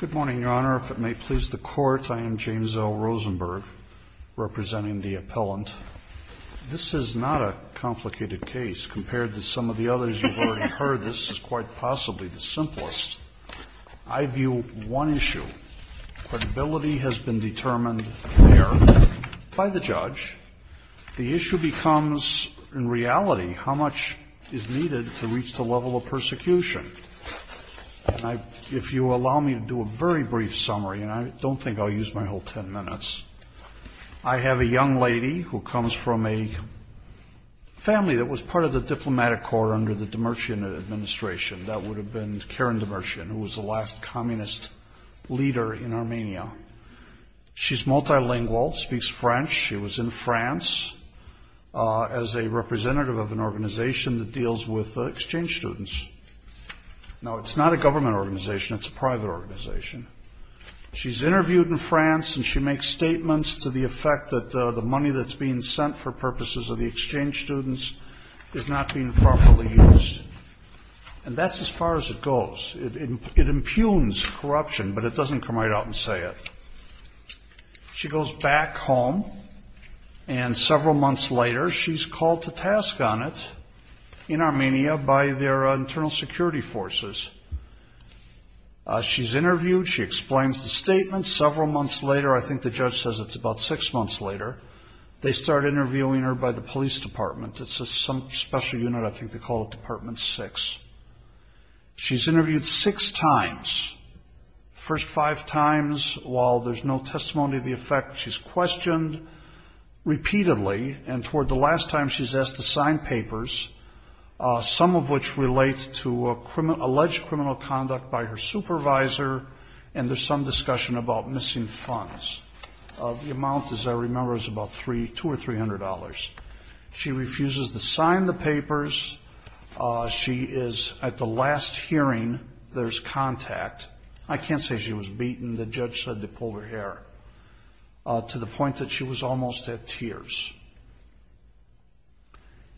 Good morning, Your Honor. If it may please the Court, I am James L. Rosenberg, representing the appellant. This is not a complicated case, compared to some of the others you've already heard. This is quite possibly the simplest. I view one issue. Credibility has been determined there by the judge. The issue becomes, in reality, how much is needed to reach the level of persecution. If you allow me to do a very brief summary, and I don't think I'll use my whole ten minutes, I have a young lady who comes from a family that was part of the diplomatic corps under the Demircian administration. That would have been Karen Demircian, who was the last communist leader in Armenia. She's multilingual, speaks French. She was in France as a representative of an organization that deals with exchange students. Now, it's not a government organization. It's a private organization. She's interviewed in France, and she makes statements to the effect that the money that's being sent for purposes of the exchange students is not being properly used. And that's as far as it goes. It impugns corruption, but it doesn't come right out and say it. She goes back home, and several months later, she's called to task on it in Armenia by their internal security forces. She's interviewed. She explains the statement. Several months later, I think the judge says it's about six months later, they start interviewing her by the police department. It's some special unit. I think they call it Department 6. She's interviewed six times. The first five times, while there's no testimony to the effect, she's questioned repeatedly. And toward the last time, she's asked to sign papers, some of which relate to alleged criminal conduct by her supervisor, and there's some discussion about missing funds. The amount, as I remember, is about $200 or $300. She refuses to sign the papers. She is, at the last hearing, there's contact. I can't say she was beaten. The judge said they pulled her hair, to the point that she was almost at tears.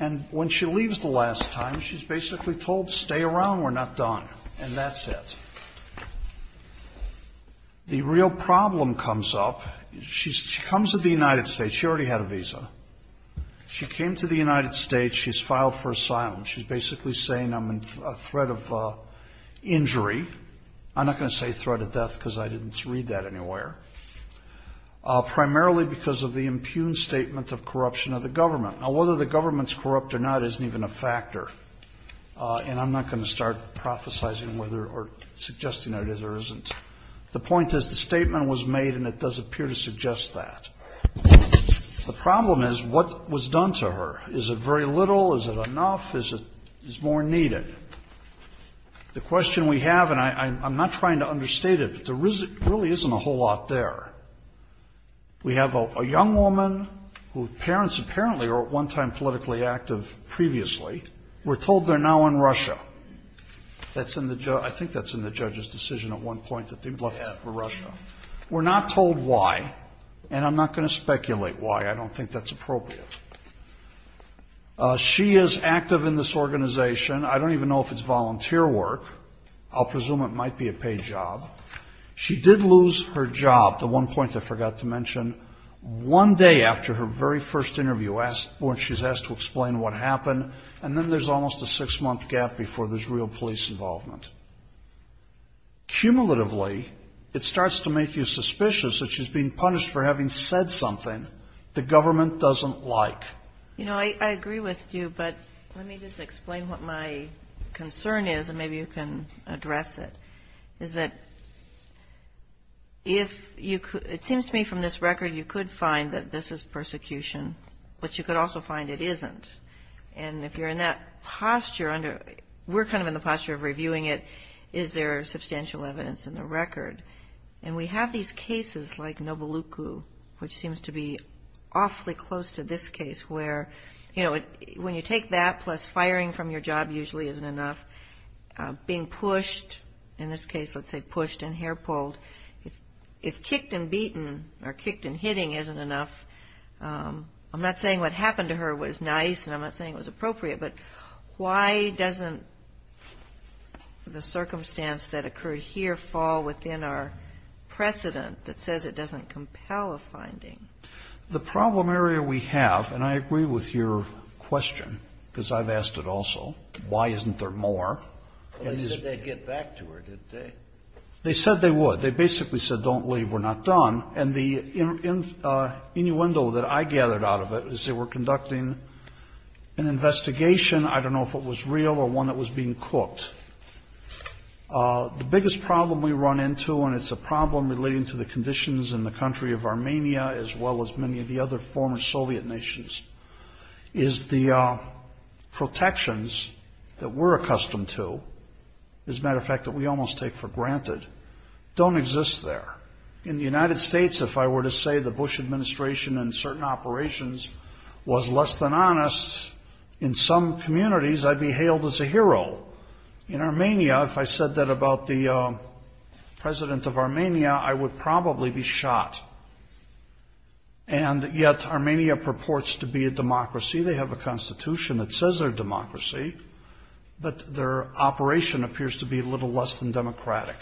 And when she leaves the last time, she's basically told, stay around, we're not done, and that's it. The real problem comes up. She comes to the United States. She already had a visa. She came to the United States. She's filed for asylum. She's basically saying, I'm in a threat of injury. I'm not going to say threat of death, because I didn't read that anywhere. Primarily because of the impugned statement of corruption of the government. Now, whether the government's corrupt or not isn't even a factor. And I'm not going to start prophesying whether or suggesting that it is or isn't. The point is the statement was made, and it does appear to suggest that. The problem is what was done to her. Is it very little? Is it enough? Is it more needed? The question we have, and I'm not trying to understate it, but there really isn't a whole lot there. We have a young woman whose parents apparently are at one time politically active previously. We're told they're now in Russia. I think that's in the judge's decision at one point that they left for Russia. We're not told why, and I'm not going to speculate why. I don't think that's appropriate. She is active in this organization. I don't even know if it's volunteer work. I'll presume it might be a paid job. She did lose her job. The one point I forgot to mention, one day after her very first interview, she's asked to explain what happened, and then there's almost a six-month gap before there's real police involvement. Cumulatively, it starts to make you suspicious that she's being punished for having said something the government doesn't like. I agree with you, but let me just explain what my concern is, and maybe you can address it. It seems to me from this record, you could find that this is persecution, but you could also find it isn't. If you're in that posture, we're kind of in the posture of reviewing it, is there substantial evidence in the record? We have these cases like Novoluku, which seems to be awfully close to this case, where when you take that plus firing from your job usually isn't enough, being pushed, in this case let's say pushed and hair pulled, if kicked and beaten or kicked and hitting isn't enough, I'm not saying what happened to her was nice, and I'm not saying it was appropriate, but why doesn't the circumstance that occurred here fall within our precedent that says it doesn't compel a finding? The problem area we have, and I agree with your question, because I've asked it also, why isn't there more? They said they'd get back to her, didn't they? They said they would. They basically said don't leave, we're not done. And the innuendo that I gathered out of it is they were conducting an investigation, I don't know if it was real or one that was being cooked. The biggest problem we run into, and it's a problem relating to the conditions in the country of Armenia as well as many of the other former Soviet nations, is the protections that we're accustomed to, as a matter of fact that we almost take for granted, don't exist there. In the United States, if I were to say the Bush administration and certain operations was less than honest, in some communities I'd be hailed as a hero. In Armenia, if I said that about the president of Armenia, I would probably be shot. And yet Armenia purports to be a democracy, they have a constitution that says they're a democracy, but their operation appears to be a little less than democratic.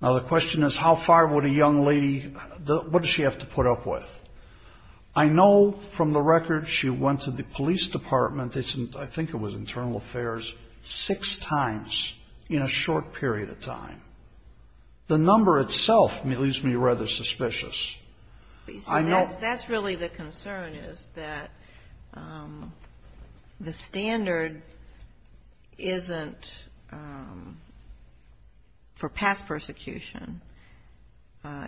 Now the question is how far would a young lady, what does she have to put up with? I know from the record she went to the police department, I think it was internal affairs, six times in a short period of time. The number itself leaves me rather suspicious. That's really the concern is that the standard isn't for past persecution,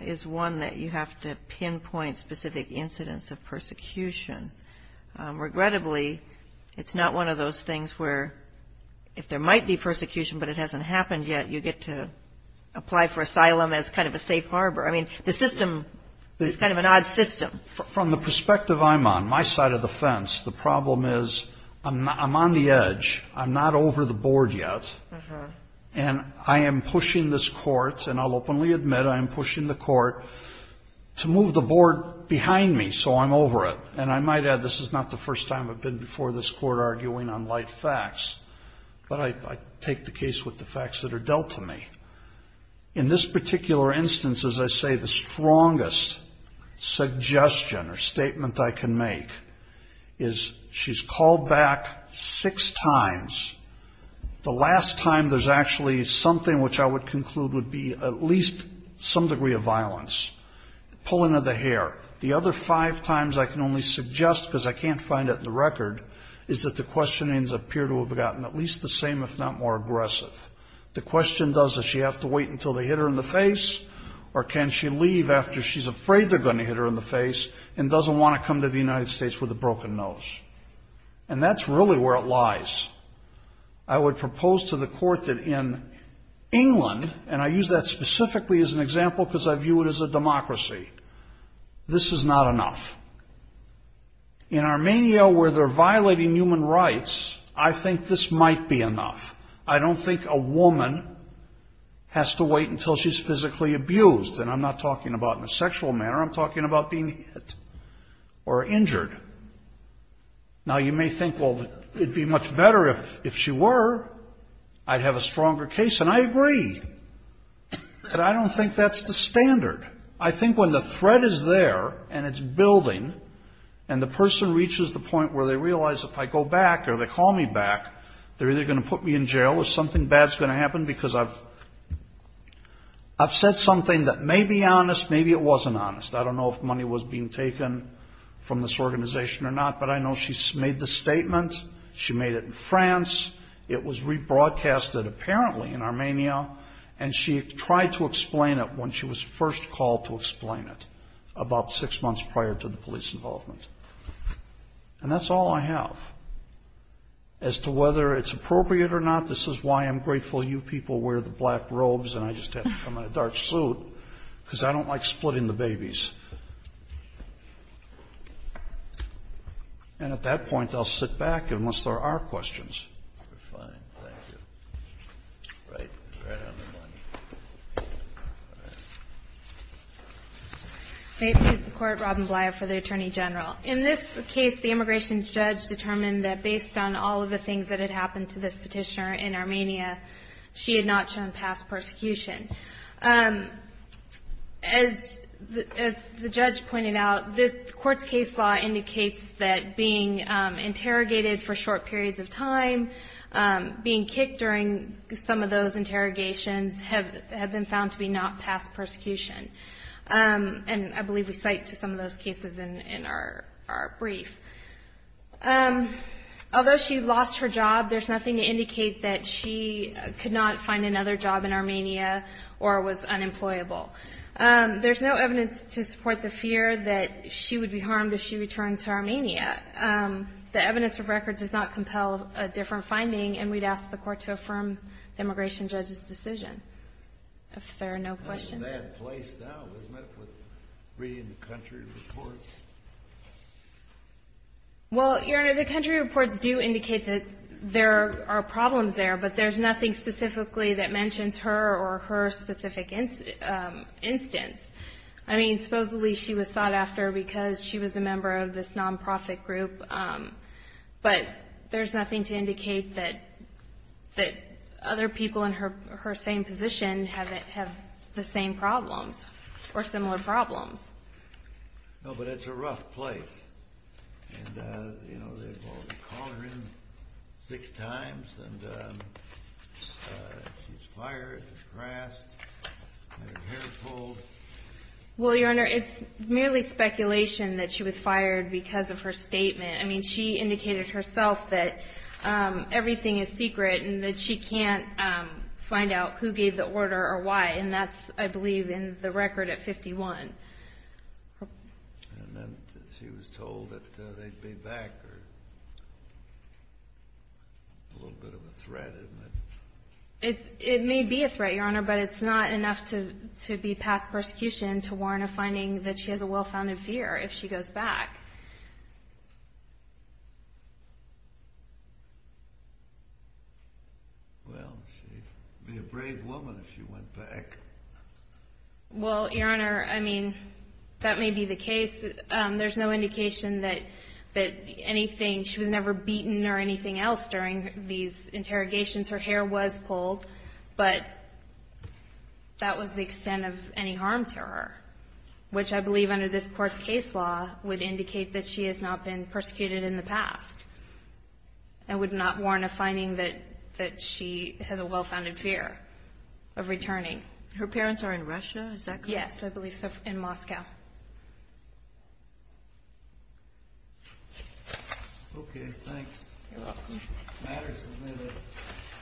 is one that you have to pinpoint specific incidents of persecution. Regrettably, it's not one of those things where if there might be persecution but it hasn't happened yet, you get to apply for it. It's kind of an odd system. From the perspective I'm on, my side of the fence, the problem is I'm on the edge, I'm not over the board yet, and I am pushing this court, and I'll openly admit I am pushing the court to move the board behind me so I'm over it. And I might add this is not the first time I've been before this court arguing on light facts, but I take the case with the first suggestion or statement I can make is she's called back six times. The last time there's actually something which I would conclude would be at least some degree of violence, pulling of the hair. The other five times I can only suggest because I can't find it in the record is that the questionings appear to have gotten at least the same if not more aggressive. The question does is she have to wait until they hit her in the face or can she leave after she's afraid they're going to hit her in the face and doesn't want to come to the United States with a broken nose? And that's really where it lies. I would propose to the court that in England, and I use that specifically as an example because I view it as a democracy, this is not enough. In Armenia where they're violating human rights, I think this might be enough. I don't think a woman has to wait until she's physically abused. And I'm not talking about in a sexual manner. I'm talking about being hit or injured. Now, you may think, well, it would be much better if she were. I'd have a stronger case. And I agree. But I don't think that's the standard. I think when the threat is there and it's building and the person reaches the point where they realize if I go back or they call me back, they're either going to put me in jail or something bad is going to happen because I've said something that may be honest, maybe it wasn't honest. I don't know if money was being taken from this organization or not. But I know she's made the statement. She made it in France. It was rebroadcasted apparently in Armenia. And she tried to explain it when she was first called to explain it, about six months prior to the police involvement. And that's all I have. As to whether it's appropriate or not, this is why I'm grateful you people wear the black robes and I just have to come in a dark suit, because I don't like splitting the babies. And at that point, I'll sit back unless there are questions. Roberts. May it please the Court, Robin Blyar for the Attorney General. In this case, the immigration judge determined that based on all of the things that had happened to this petitioner in Armenia, she had not shown past persecution. As the judge pointed out, the Court's case law indicates that being interrogated for short periods of time, being kicked during some of those interrogations have been found to be not past persecution. And I believe we cite to some of those cases in our brief. Although she lost her job, there's nothing to indicate that she could not find another job in Armenia or was unemployable. There's no evidence to support the fear that she would be harmed if she returned to Armenia. The evidence of record does not compel a different finding, and we'd ask the Court to affirm the immigration judge's decision. If there are no questions. It's a bad place now, isn't it, for reading the country reports? Well, Your Honor, the country reports do indicate that there are problems there, but there's nothing specifically that mentions her or her specific instance. I mean, supposedly she was sought after because she was a member of this nonprofit group, but there's nothing to indicate that other people in her same position have the same problems or similar problems. No, but it's a rough place. And, you know, they've called her in six times, and she's fired, harassed, had her hair pulled. Well, Your Honor, it's merely speculation that she was fired because of her statement. I mean, she indicated herself that everything is secret and that she can't find out who And then she was told that they'd be back. A little bit of a threat, isn't it? It may be a threat, Your Honor, but it's not enough to be past persecution to warrant a finding that she has a well-founded fear if she goes back. Well, she'd be a brave woman if she went back. Well, Your Honor, I mean, that may be the case. There's no indication that anything, she was never beaten or anything else during these interrogations. Her hair was pulled, but that was the extent of any harm to her, which I believe under this Court's case law would indicate that she has not been persecuted in the past and would not warrant a finding that she has a well-founded fear of returning. Her parents are in Russia? Is that correct? Yes, I believe so, in Moscow. Okay, thanks. You're welcome. The matter is submitted.